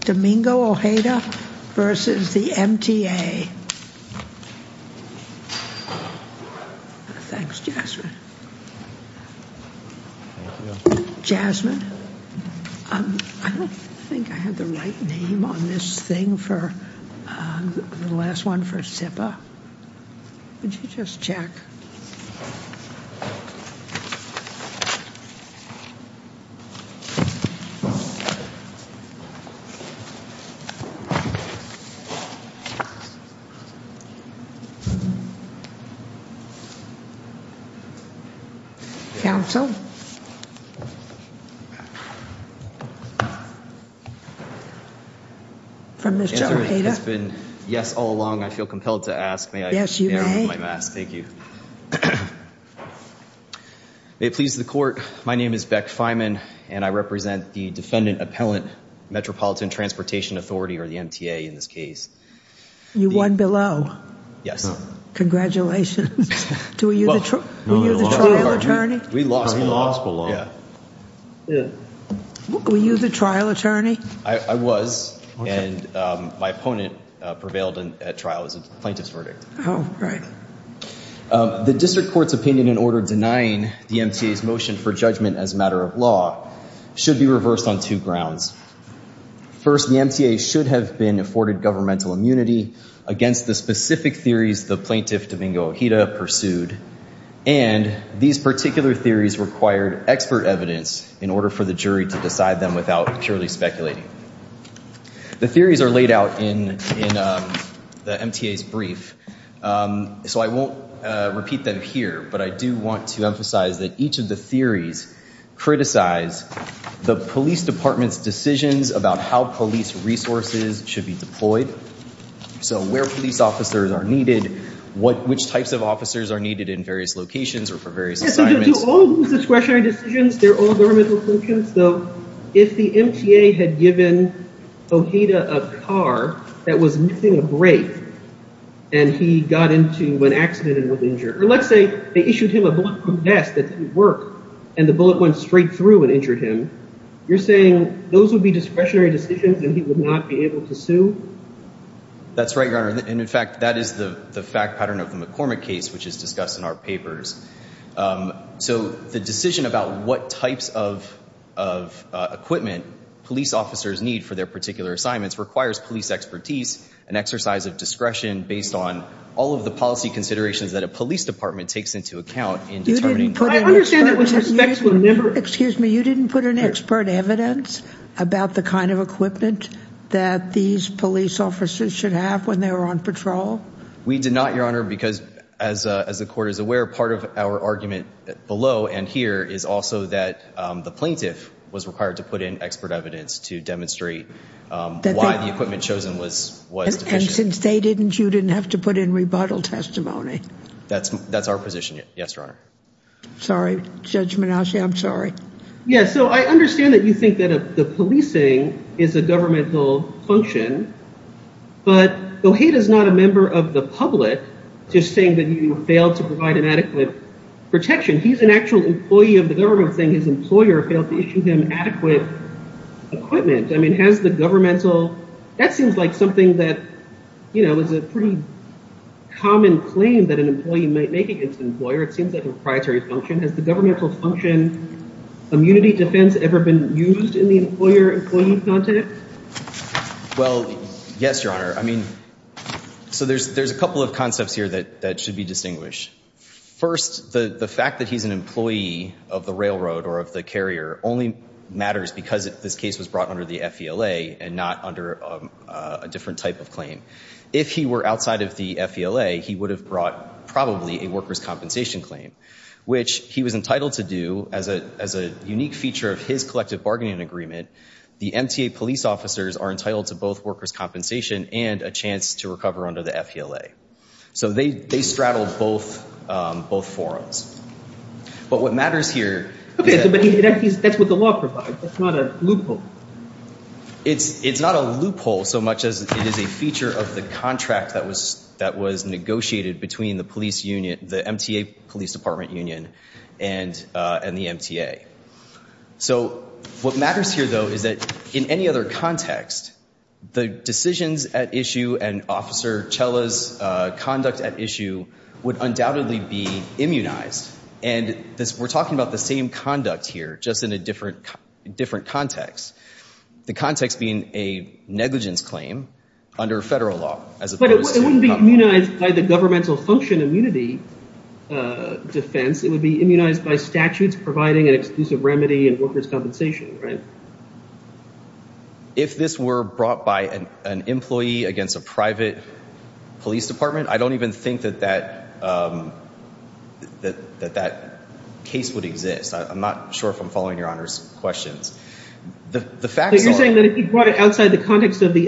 Domingo Ojeda v. the MTA. Thanks Jasmine. Jasmine, I don't think I have the right name on this thing for the last one for SIPA. Would you just check? Thank you. Counsel from Mr. Ojeda. It's been yes all along. I feel compelled to ask. May I remove my mask? Thank you. May it please the court, my name is Beck Feynman and I represent the Transportation Authority or the MTA in this case. You won below. Yes. Congratulations. Were you the trial attorney? We lost below. Were you the trial attorney? I was and my opponent prevailed at trial as a plaintiff's verdict. Oh right. The district court's opinion in order denying the MTA's motion for judgment as a matter of law should be reversed on two grounds. First the MTA should have been afforded governmental immunity against the specific theories the plaintiff Domingo Ojeda pursued and these particular theories required expert evidence in order for the jury to decide them without purely speculating. The theories are laid out in the MTA's brief so I won't repeat them here but I do want to emphasize that each of the department's decisions about how police resources should be deployed so where police officers are needed what which types of officers are needed in various locations or for various assignments. To all discretionary decisions they're all governmental functions so if the MTA had given Ojeda a car that was missing a brake and he got into an accident and was injured or let's say they issued him a bulletproof vest that didn't work and the bullet went straight through and injured him you're saying those would be discretionary decisions and he would not be able to sue? That's right your honor and in fact that is the the fact pattern of the McCormick case which is discussed in our papers. So the decision about what types of of equipment police officers need for their particular assignments requires police expertise an exercise of discretion based on all of the policy considerations that a police department takes into account in determining. I understand that with respect to a member. Excuse me you didn't put an expert evidence about the kind of equipment that these police officers should have when they were on patrol? We did not your honor because as as the court is aware part of our argument below and here is also that the plaintiff was required to put in expert evidence to demonstrate why the equipment chosen was. And since they didn't you didn't have to put in rebuttal testimony? That's that's our position yes your honor. Sorry Judge McCormick. Yes so I understand that you think that the policing is a governmental function but Goheda is not a member of the public just saying that you failed to provide an adequate protection. He's an actual employee of the government saying his employer failed to issue him adequate equipment. I mean has the governmental that seems like something that you know is a pretty common claim that an employee might make against an employer. It seems like a proprietary function. Has the governmental function immunity defense ever been used in the employer employee context? Well yes your honor. I mean so there's there's a couple of concepts here that that should be distinguished. First the the fact that he's an employee of the railroad or of the carrier only matters because if this case was brought under the FVLA and not under a different type of claim. If he were outside of the FVLA he would have brought probably a workers compensation claim. Which he was entitled to do as a as a unique feature of his collective bargaining agreement. The MTA police officers are entitled to both workers compensation and a chance to recover under the FVLA. So they they straddle both both forums. But what matters here. Okay but that's what the law provides. It's not a loophole. It's it's not a loophole so much as it is a feature of the contract that was that was negotiated between the police union the MTA Police Department Union and and the MTA. So what matters here though is that in any other context the decisions at issue and officer Chella's conduct at issue would undoubtedly be immunized. And this we're talking about the same conduct here just in a different different context. The context being a negligence claim under federal law. But it wouldn't be immunized by the defense. It would be immunized by statutes providing an exclusive remedy and workers compensation right. If this were brought by an employee against a private police department I don't even think that that that that that case would exist. I'm not sure if I'm following your honors questions. The fact that you're saying that if you brought it outside the context of the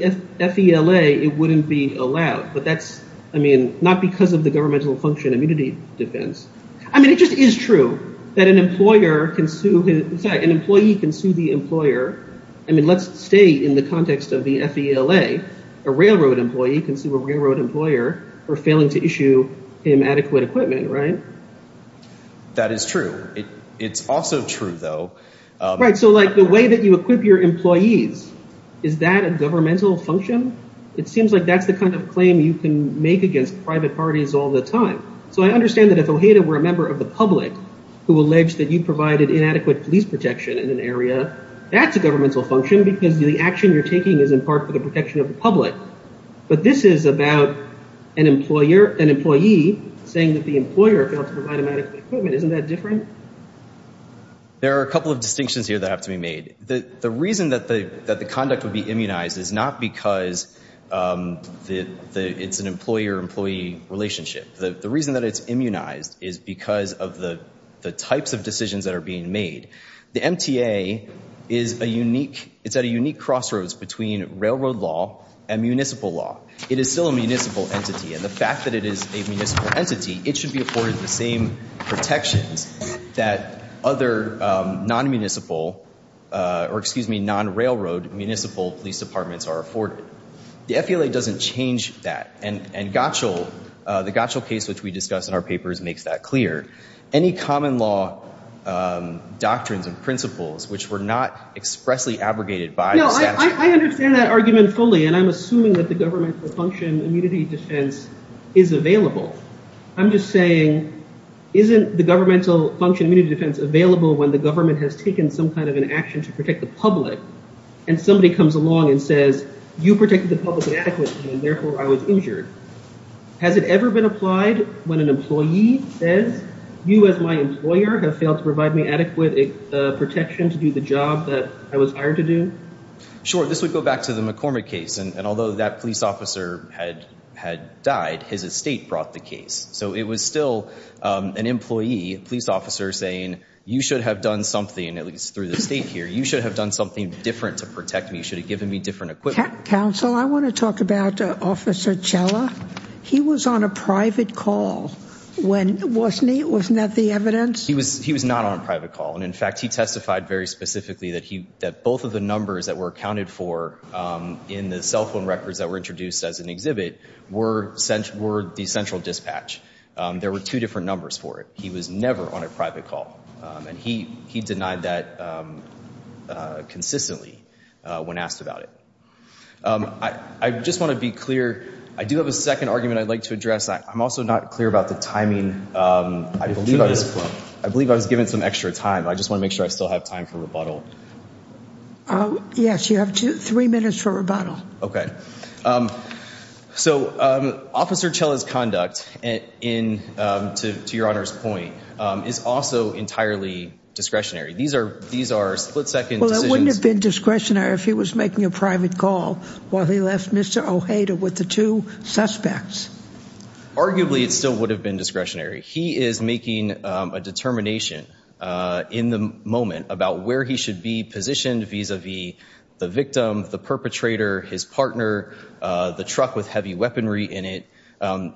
FVLA it wouldn't be allowed. But that's I mean not because of the governmental function immunity defense. I mean it just is true that an employer can sue. In fact an employee can sue the employer. I mean let's stay in the context of the FVLA. A railroad employee can sue a railroad employer for failing to issue him adequate equipment right. That is true. It's also true though. Right so like the way that you equip your employees. Is that a governmental function? It seems like that's the kind of claim you can make against private parties all the time. So I understand that if Ojeda were a member of the public who alleged that you provided inadequate police protection in an area. That's a governmental function because the action you're taking is in part for the protection of the public. But this is about an employer an employee saying that the employer failed to provide him adequate equipment. Isn't that different? There are a couple of distinctions here that have to be made. The the reason that the that the conduct would be immunized is not because the it's an employer employee relationship. The reason that it's immunized is because of the the types of decisions that are being made. The MTA is a unique it's at a unique crossroads between railroad law and municipal law. It is still a municipal entity and the fact that it is a municipal entity it should be afforded the same protections that other non-municipal or excuse me non railroad municipal police departments are afforded. The FBLA doesn't change that and and Gottschall the Gottschall case which we discussed in our papers makes that clear. Any common law doctrines and principles which were not expressly abrogated by... No I understand that argument fully and I'm assuming that the governmental function immunity defense is available. I'm just saying isn't the governmental function immunity defense available when the government has taken some kind of an action to protect the public adequately and therefore I was injured. Has it ever been applied when an employee says you as my employer have failed to provide me adequate protection to do the job that I was hired to do? Sure this would go back to the McCormick case and although that police officer had had died his estate brought the case. So it was still an employee police officer saying you should have done something at least through the state here you should have done something different to protect me should have given me different equipment. Counsel I want to talk about officer Chella. He was on a private call when wasn't he? Wasn't that the evidence? He was he was not on a private call and in fact he testified very specifically that he that both of the numbers that were accounted for in the cell phone records that were introduced as an exhibit were sent were the central dispatch. There were two different numbers for it. He was never on consistently when asked about it. I just want to be clear I do have a second argument I'd like to address. I'm also not clear about the timing. I believe I was given some extra time I just want to make sure I still have time for rebuttal. Oh yes you have two three minutes for rebuttal. Okay so officer Chella's conduct and in to your Honor's point is also entirely discretionary. These are these are split-second decisions. Well it wouldn't have been discretionary if he was making a private call while he left Mr. Ojeda with the two suspects. Arguably it still would have been discretionary. He is making a determination in the moment about where he should be positioned vis-a-vis the victim, the perpetrator, his partner, the truck with heavy weaponry in it.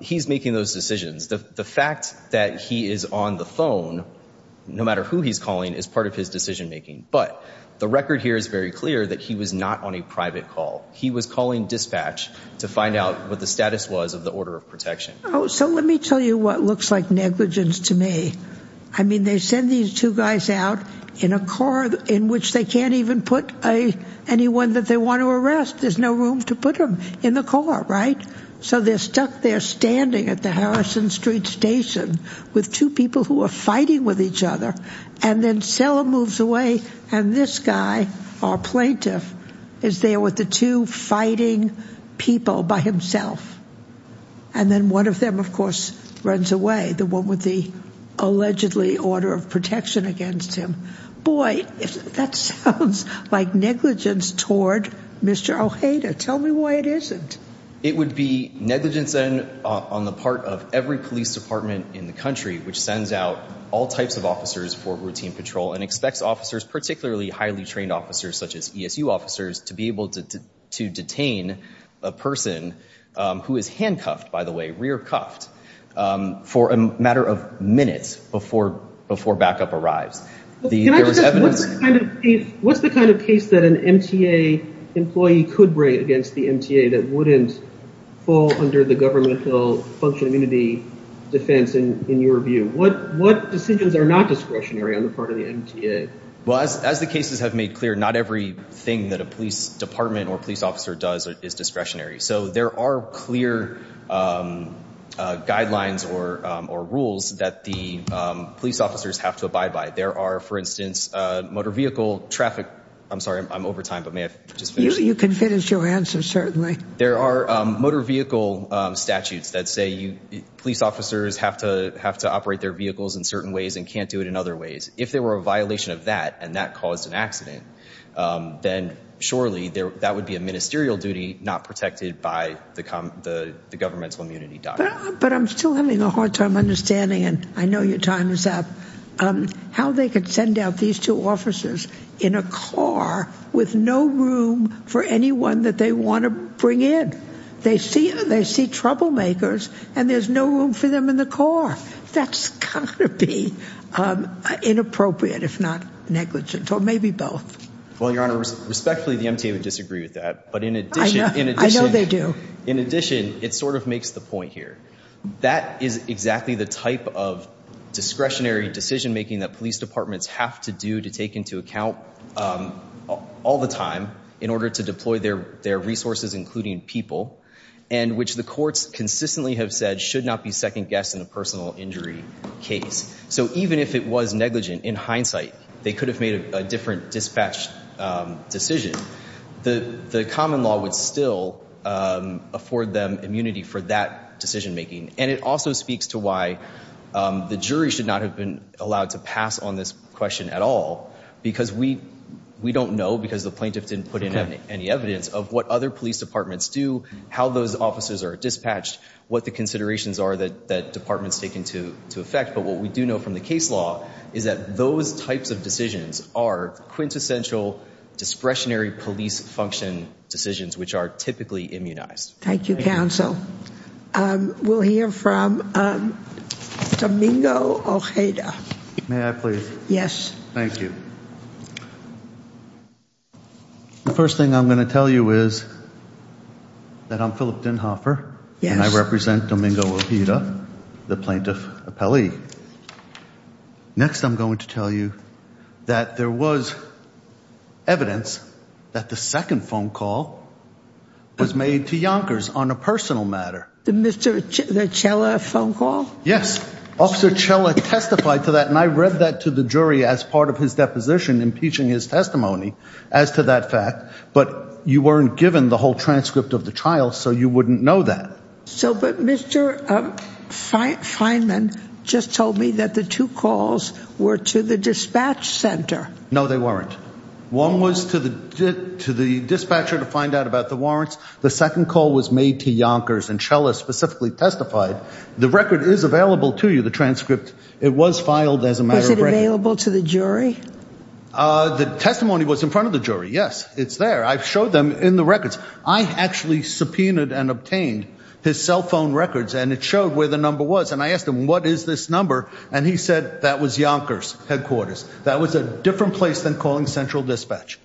He's making those decisions. The fact that he is on the phone no matter who he's calling is part of his decision making. But the record here is very clear that he was not on a private call. He was calling dispatch to find out what the status was of the order of protection. Oh so let me tell you what looks like negligence to me. I mean they send these two guys out in a car in which they can't even put a anyone that they want to arrest. There's no room to put him in the car right? So they're stuck there Harrison Street Station with two people who are fighting with each other and then Sella moves away and this guy, our plaintiff, is there with the two fighting people by himself. And then one of them of course runs away, the one with the allegedly order of protection against him. Boy, that sounds like negligence toward Mr. Ojeda. Tell me why it isn't. It would be negligence on the part of every police department in the country which sends out all types of officers for routine patrol and expects officers, particularly highly trained officers such as ESU officers, to be able to detain a person who is handcuffed, by the way, rear cuffed, for a matter of minutes before before backup arrives. What's the kind of case that an MTA employee could bring against the MTA that wouldn't fall under the governmental function immunity defense in your view? What decisions are not discretionary on the part of the MTA? Well, as the cases have made clear, not everything that a police department or police officer does is discretionary. So there are clear guidelines or rules that the police officers have to abide by. There are, for instance, motor vehicle traffic, I'm sorry I'm over time but may I just finish? You can finish your answer certainly. There are motor vehicle statutes that say police officers have to have to operate their vehicles in certain ways and can't do it in other ways. If there were a violation of that and that caused an accident, then surely that would be a ministerial duty not protected by the governmental immunity doctrine. But I'm still having a hard time understanding, and I know your time is up, how they could send out these two officers in a bring in. They see troublemakers and there's no room for them in the car. That's gonna be inappropriate if not negligent or maybe both. Well, Your Honor, respectfully the MTA would disagree with that, but in addition, I know they do, in addition, it sort of makes the point here. That is exactly the type of discretionary decision-making that police departments have to do to take into account all the time in order to deploy their their resources, including people, and which the courts consistently have said should not be second-guessed in a personal injury case. So even if it was negligent, in hindsight, they could have made a different dispatch decision. The common law would still afford them immunity for that decision-making and it also speaks to why the jury should not have been allowed to pass on this question at all because we we don't know because the plaintiff didn't put in any evidence of what other police departments do, how those officers are dispatched, what the considerations are that departments take into effect, but what we do know from the case law is that those types of decisions are quintessential discretionary police function decisions which are typically immunized. Thank you, counsel. We'll hear from Domingo Ojeda. May I please? Yes. Thank you. The first thing I'm going to tell you is that I'm Philip Dinhoffer and I represent Domingo Ojeda, the plaintiff appellee. Next I'm going to tell you that there was evidence that the second phone call was made to Yonkers on a personal matter. The Mr. Cella phone call? Yes. Officer Cella testified to that and I to that fact but you weren't given the whole transcript of the trial so you wouldn't know that. So but Mr. Fineman just told me that the two calls were to the dispatch center. No, they weren't. One was to the to the dispatcher to find out about the warrants. The second call was made to Yonkers and Cella specifically testified. The record is available to you, the transcript. It was filed as a matter of fact. Is it available to the jury? The testimony was in front of the jury, yes. It's there. I've showed them in the records. I actually subpoenaed and obtained his cell phone records and it showed where the number was and I asked him what is this number and he said that was Yonkers headquarters. That was a different place than calling Central Dispatch.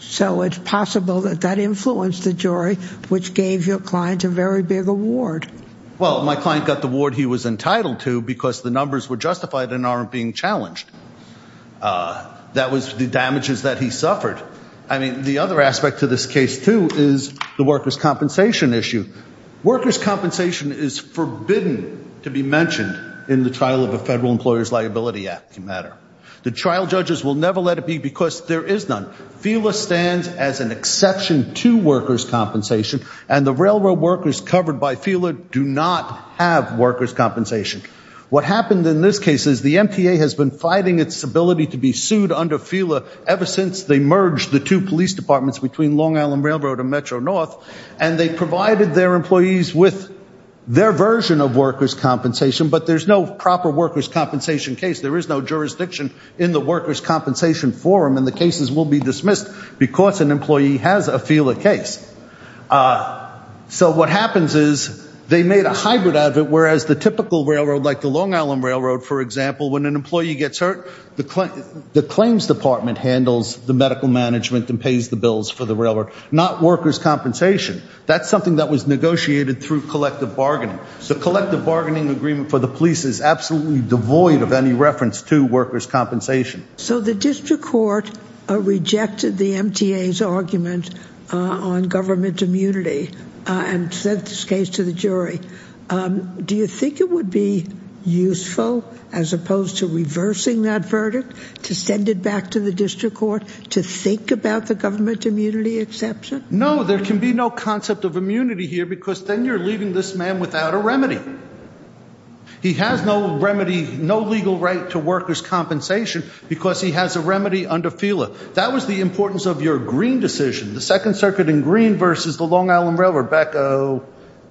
So it's possible that that influenced the jury which gave your client a very big award. Well my client got the award he was entitled to because the numbers were justified and aren't being challenged. That was the damages that he suffered. I mean the other aspect to this case too is the workers' compensation issue. Workers' compensation is forbidden to be mentioned in the trial of a federal employers liability act matter. The trial judges will never let it be because there is none. FELA stands as an exception to workers' compensation and the railroad workers covered by FELA do not have workers' compensation. What happened in this case is the MTA has been fighting its ability to be sued under FELA ever since they merged the two police departments between Long Island Railroad and Metro North and they provided their employees with their version of workers' compensation but there's no proper workers' compensation case. There is no jurisdiction in the workers' compensation forum and the cases will be dismissed because an employee has a FELA case. So what happens is they made a hybrid out of it whereas the typical railroad like the Long Island Railroad for example when an employee gets hurt the claims department handles the medical management and pays the bills for the railroad not workers' compensation. That's something that was negotiated through collective bargaining. The collective bargaining agreement for the police is absolutely devoid of any reference to workers' compensation. So the district court rejected the MTA's argument on government immunity and sent this case to the jury. Do you think it would be useful as opposed to reversing that verdict to send it back to the district court to think about the government immunity exception? No, there can be no concept of immunity here because then you're leaving this man without a remedy. He has no remedy, no legal right to workers' compensation because he has a remedy under FELA. That was the importance of your Green decision, the Second Circuit in Green versus the Long Island Railroad back oh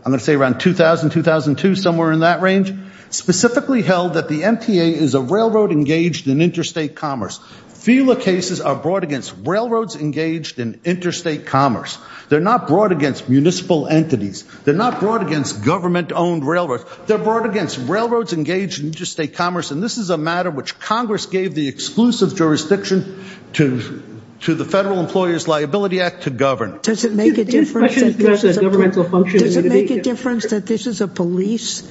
I'm gonna say around 2000-2002 somewhere in that range. Specifically held that the MTA is a railroad engaged in interstate commerce. FELA cases are brought against railroads engaged in interstate commerce. They're not brought against municipal entities. They're not brought against government-owned railroads. They're brought against railroads engaged in interstate commerce and this is a matter which Congress gave the exclusive jurisdiction to the Federal Employers Act to govern. Does it make a difference that this is a police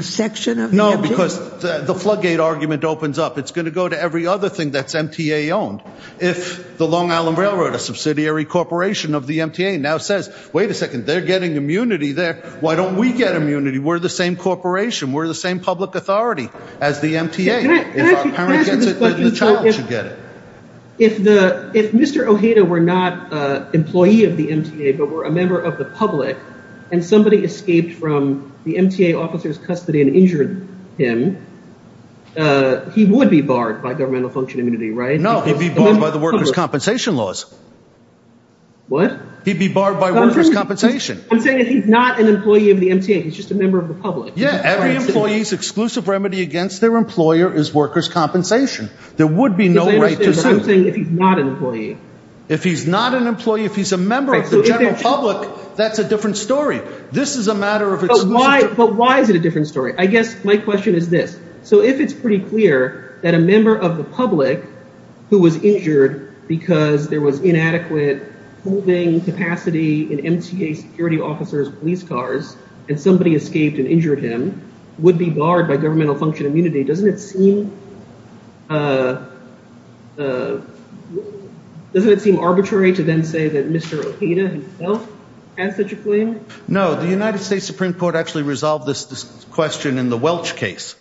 section? No, because the floodgate argument opens up. It's going to go to every other thing that's MTA owned. If the Long Island Railroad, a subsidiary corporation of the MTA now says, wait a second, they're getting immunity there. Why don't we get immunity? We're the same corporation. We're the same public authority as the MTA. If Mr. Ojeda were not employee of the MTA but were a member of the public and somebody escaped from the MTA officer's custody and injured him, he would be barred by governmental function immunity, right? No, he'd be barred by the workers' compensation laws. What? He'd be barred by workers' compensation. I'm saying if he's not an employee of the MTA, he's just a member of the public. Yeah, every employee's exclusive remedy against their employer is workers' compensation. There would be no right to... I'm saying if he's not an employee. If he's not an employee, if he's a member of the general public, that's a different story. This is a matter of exclusive... But why is it a different story? I guess my question is this. So if it's pretty clear that a member of the public who was injured because there was inadequate holding capacity in MTA security officers' police cars and somebody escaped and injured him would be barred by governmental function immunity, doesn't it seem... doesn't it seem arbitrary to then say that Mr. O'Heda himself had such a claim? No, the United States Supreme Court actually resolved this question in the Welch case.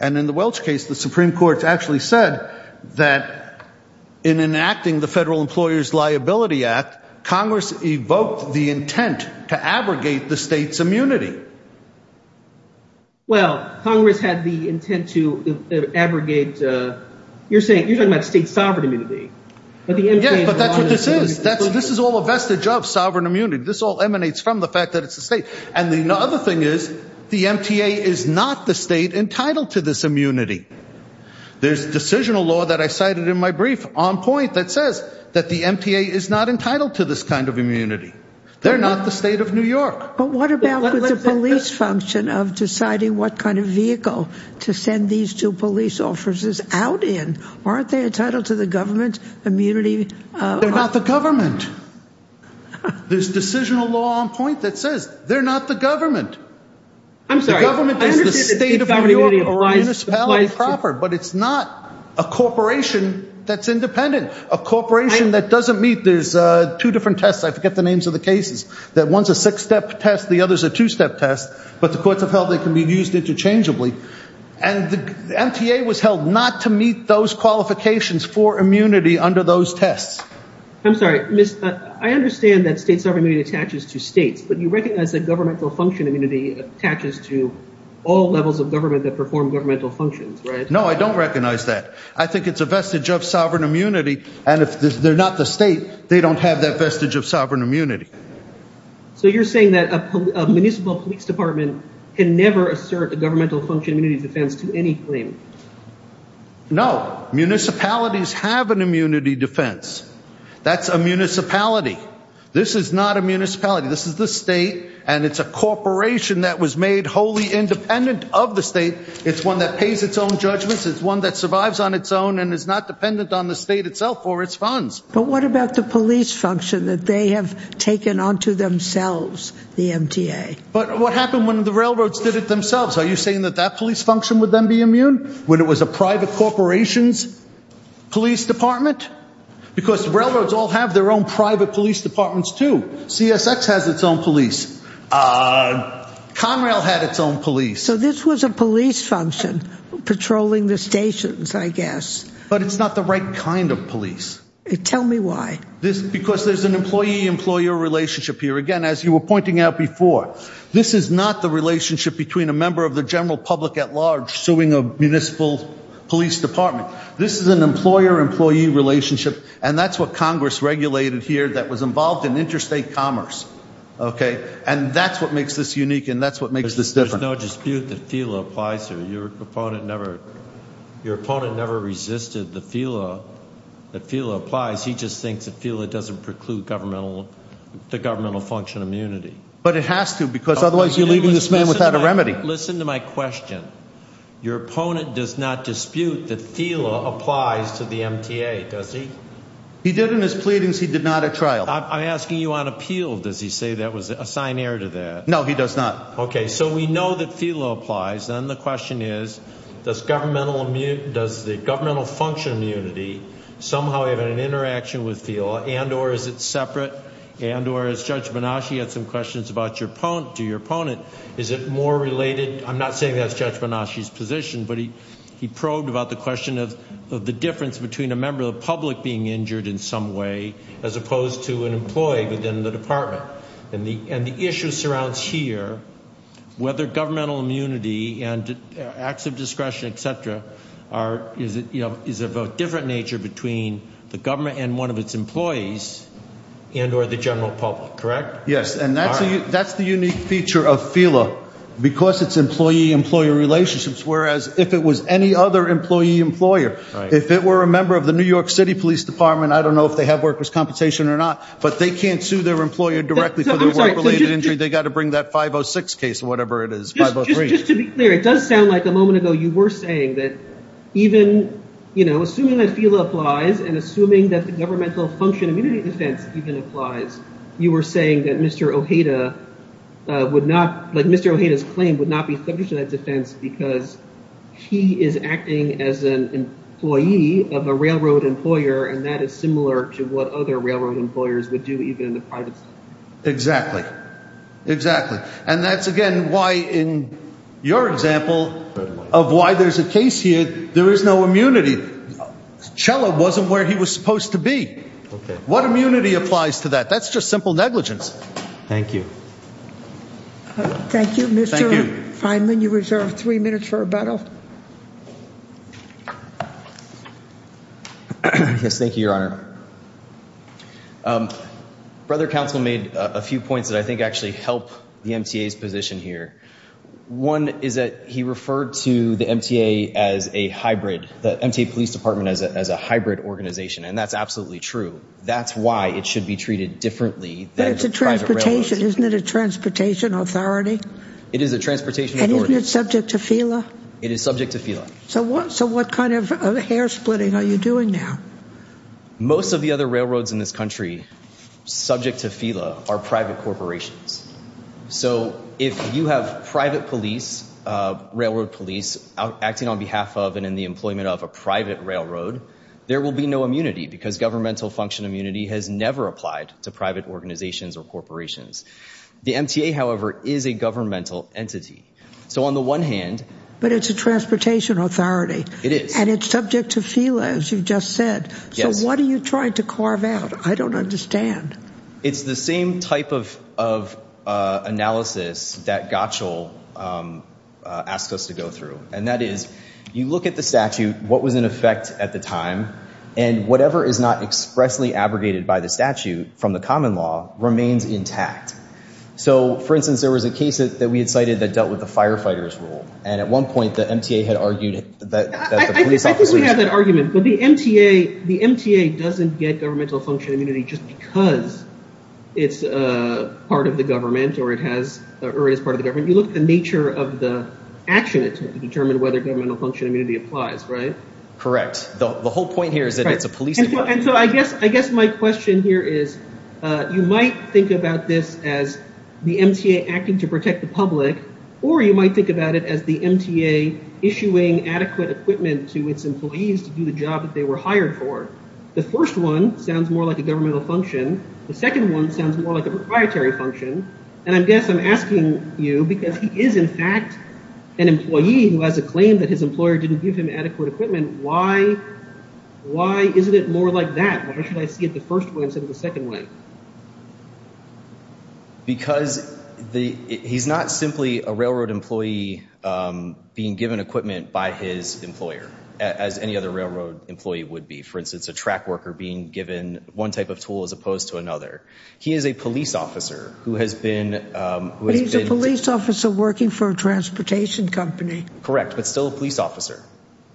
And in the Welch case, the Supreme Court actually said that in enacting the Federal Employers Liability Act, Congress evoked the intent to abrogate... You're saying... You're talking about state sovereign immunity. Yeah, but that's what this is. This is all a vestige of sovereign immunity. This all emanates from the fact that it's a state. And the other thing is, the MTA is not the state entitled to this immunity. There's decisional law that I cited in my brief on point that says that the MTA is not entitled to this kind of immunity. They're not the state of New York. But what about the police function of deciding what kind of vehicle to send these two police officers out in? Aren't they entitled to the government's immunity? They're not the government. There's decisional law on point that says they're not the government. I'm sorry. The government is the state of New York municipality proper, but it's not a corporation that's independent. A corporation that doesn't meet... there's two different tests, I forget the other's a two-step test, but the courts have held they can be used interchangeably. And the MTA was held not to meet those qualifications for immunity under those tests. I'm sorry. I understand that state sovereign immunity attaches to states, but you recognize that governmental function immunity attaches to all levels of government that perform governmental functions, right? No, I don't recognize that. I think it's a vestige of sovereign immunity. And if they're not the state, they don't have that vestige of municipal police department can never assert a governmental function immunity defense to any claim. No, municipalities have an immunity defense. That's a municipality. This is not a municipality. This is the state, and it's a corporation that was made wholly independent of the state. It's one that pays its own judgments. It's one that survives on its own and is not dependent on the state itself for its funds. But what about the police function that they have taken on to themselves, the MTA? But what happened when the railroads did it themselves? Are you saying that that police function would then be immune when it was a private corporation's police department? Because railroads all have their own private police departments too. CSX has its own police. Conrail had its own police. So this was a police function patrolling the stations, I guess. But it's not the right kind of police. Tell me why. Because there's an employee- relationship here. Again, as you were pointing out before, this is not the relationship between a member of the general public at large suing a municipal police department. This is an employer-employee relationship, and that's what Congress regulated here that was involved in interstate commerce, okay? And that's what makes this unique, and that's what makes this different. There's no dispute that FILA applies here. Your opponent never resisted that FILA applies. He just thinks that FILA doesn't preclude the governmental function immunity. But it has to, because otherwise you're leaving this man without a remedy. Listen to my question. Your opponent does not dispute that FILA applies to the MTA, does he? He did in his pleadings. He did not at trial. I'm asking you on appeal. Does he say that was a signer to that? No, he does not. Okay, so we know that FILA applies. Then the question is, does the governmental function immunity somehow have an interaction with FILA, and or is it separate, and or as Judge Banaschi had some questions about your opponent, is it more related? I'm not saying that's Judge Banaschi's position, but he probed about the question of the difference between a member of the public being injured in some way, as opposed to an employee within the department. And the issue surrounds here, whether governmental immunity and acts of discretion, etc. are, is it, you know, the difference between the government and one of its employees, and or the general public, correct? Yes, and that's the unique feature of FILA, because it's employee-employee relationships, whereas if it was any other employee-employer, if it were a member of the New York City Police Department, I don't know if they have workers' compensation or not, but they can't sue their employer directly for their work-related injury. They got to bring that 506 case, whatever it is, 503. Just to be clear, it does sound like a moment ago you were saying that even, you know, assuming that FILA applies, and assuming that the governmental function immunity defense even applies, you were saying that Mr. Ojeda would not, like Mr. Ojeda's claim, would not be subject to that defense, because he is acting as an employee of a railroad employer, and that is similar to what other railroad employers would do, even in the private sector. Exactly, exactly, and that's, again, why in your example of why there's a case here, there is no immunity. Chella wasn't where he was supposed to be. What immunity applies to that? That's just simple negligence. Thank you. Thank you, Mr. Feinman. You reserve three minutes for rebuttal. Yes, thank you, Your Honor. Brother Counsel made a few points that I think actually help the MTA's position here. One is that he referred to the MTA as a hybrid, the MTA Police Department as a hybrid organization, and that's absolutely true. That's why it should be treated differently. But it's a transportation, isn't it a transportation authority? It is a transportation authority. And isn't it subject to FILA? It is subject to FILA. So what, so what kind of hair-splitting are you doing now? Most of the other railroads in this FILA are private corporations. So if you have private police, railroad police, acting on behalf of and in the employment of a private railroad, there will be no immunity because governmental function immunity has never applied to private organizations or corporations. The MTA, however, is a governmental entity. So on the one hand... But it's a transportation authority. It is. And it's subject to FILA, as you've just said. So what are you trying to carve out? I don't understand. It's the same type of analysis that Gottschall asked us to go through. And that is, you look at the statute, what was in effect at the time, and whatever is not expressly abrogated by the statute from the common law remains intact. So for instance, there was a case that we had cited that dealt with the firefighters rule. And at one point the MTA had argued that... I think we have that argument. But the MTA doesn't get governmental function immunity just because it's a part of the government or it is part of the government. You look at the nature of the action it took to determine whether governmental function immunity applies, right? Correct. The whole point here is that it's a police... And so I guess my question here is, you might think about this as the MTA acting to protect the public, or you might think about it as the MTA issuing adequate equipment to its employees to do the job that they were hired for. The first one sounds more like a governmental function. The second one sounds more like a proprietary function. And I guess I'm asking you, because he is in fact an employee who has a claim that his employer didn't give him adequate equipment, why isn't it more like that? Why should I see it the first way instead of the second way? Because he's not simply a railroad employee being given equipment by his employer, as any other railroad employee would be. For instance, a track worker being given one type of tool as opposed to another. He is a police officer who has been... But he's a police officer working for a transportation company. Correct, but still a police officer.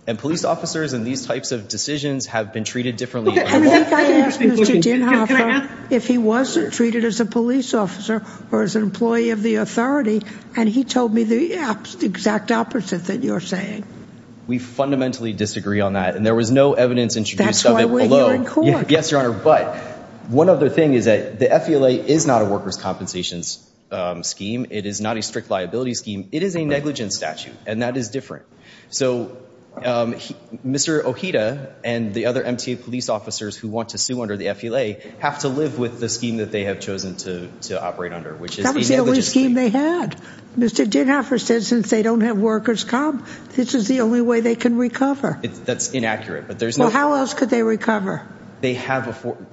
And police officers and these types of decisions have been treated differently. I think I asked Mr. Dienhoffer if he wasn't treated as a police officer or as an employee of the authority, and he told me the exact opposite that you're saying. We fundamentally disagree on that, and there was no evidence introduced of it below. That's why we're here in court. Yes, Your Honor, but one other thing is that the FVLA is not a workers' compensations scheme. It is not a strict liability scheme. It is a negligence statute, and that is different. So Mr. Ojeda and the other MTA police officers who want to sue under the FVLA have to live with the scheme that they have chosen to operate under, which is a negligence scheme. That was the only scheme they had. Mr. Dienhoffer said since they don't have workers' comp, this is the only way they can recover. That's inaccurate, but there's no... Well, how else could they recover? They have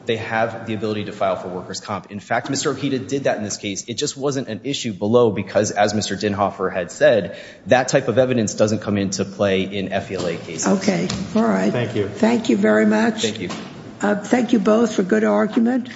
the ability to file for workers' comp. In fact, Mr. Ojeda did that in this case. It just wasn't an issue below because, as Mr. Dienhoffer had said, that type of evidence doesn't come into play in FVLA cases. Okay, all right. Thank you. Thank you very much. Thank you. Thank you both for good argument.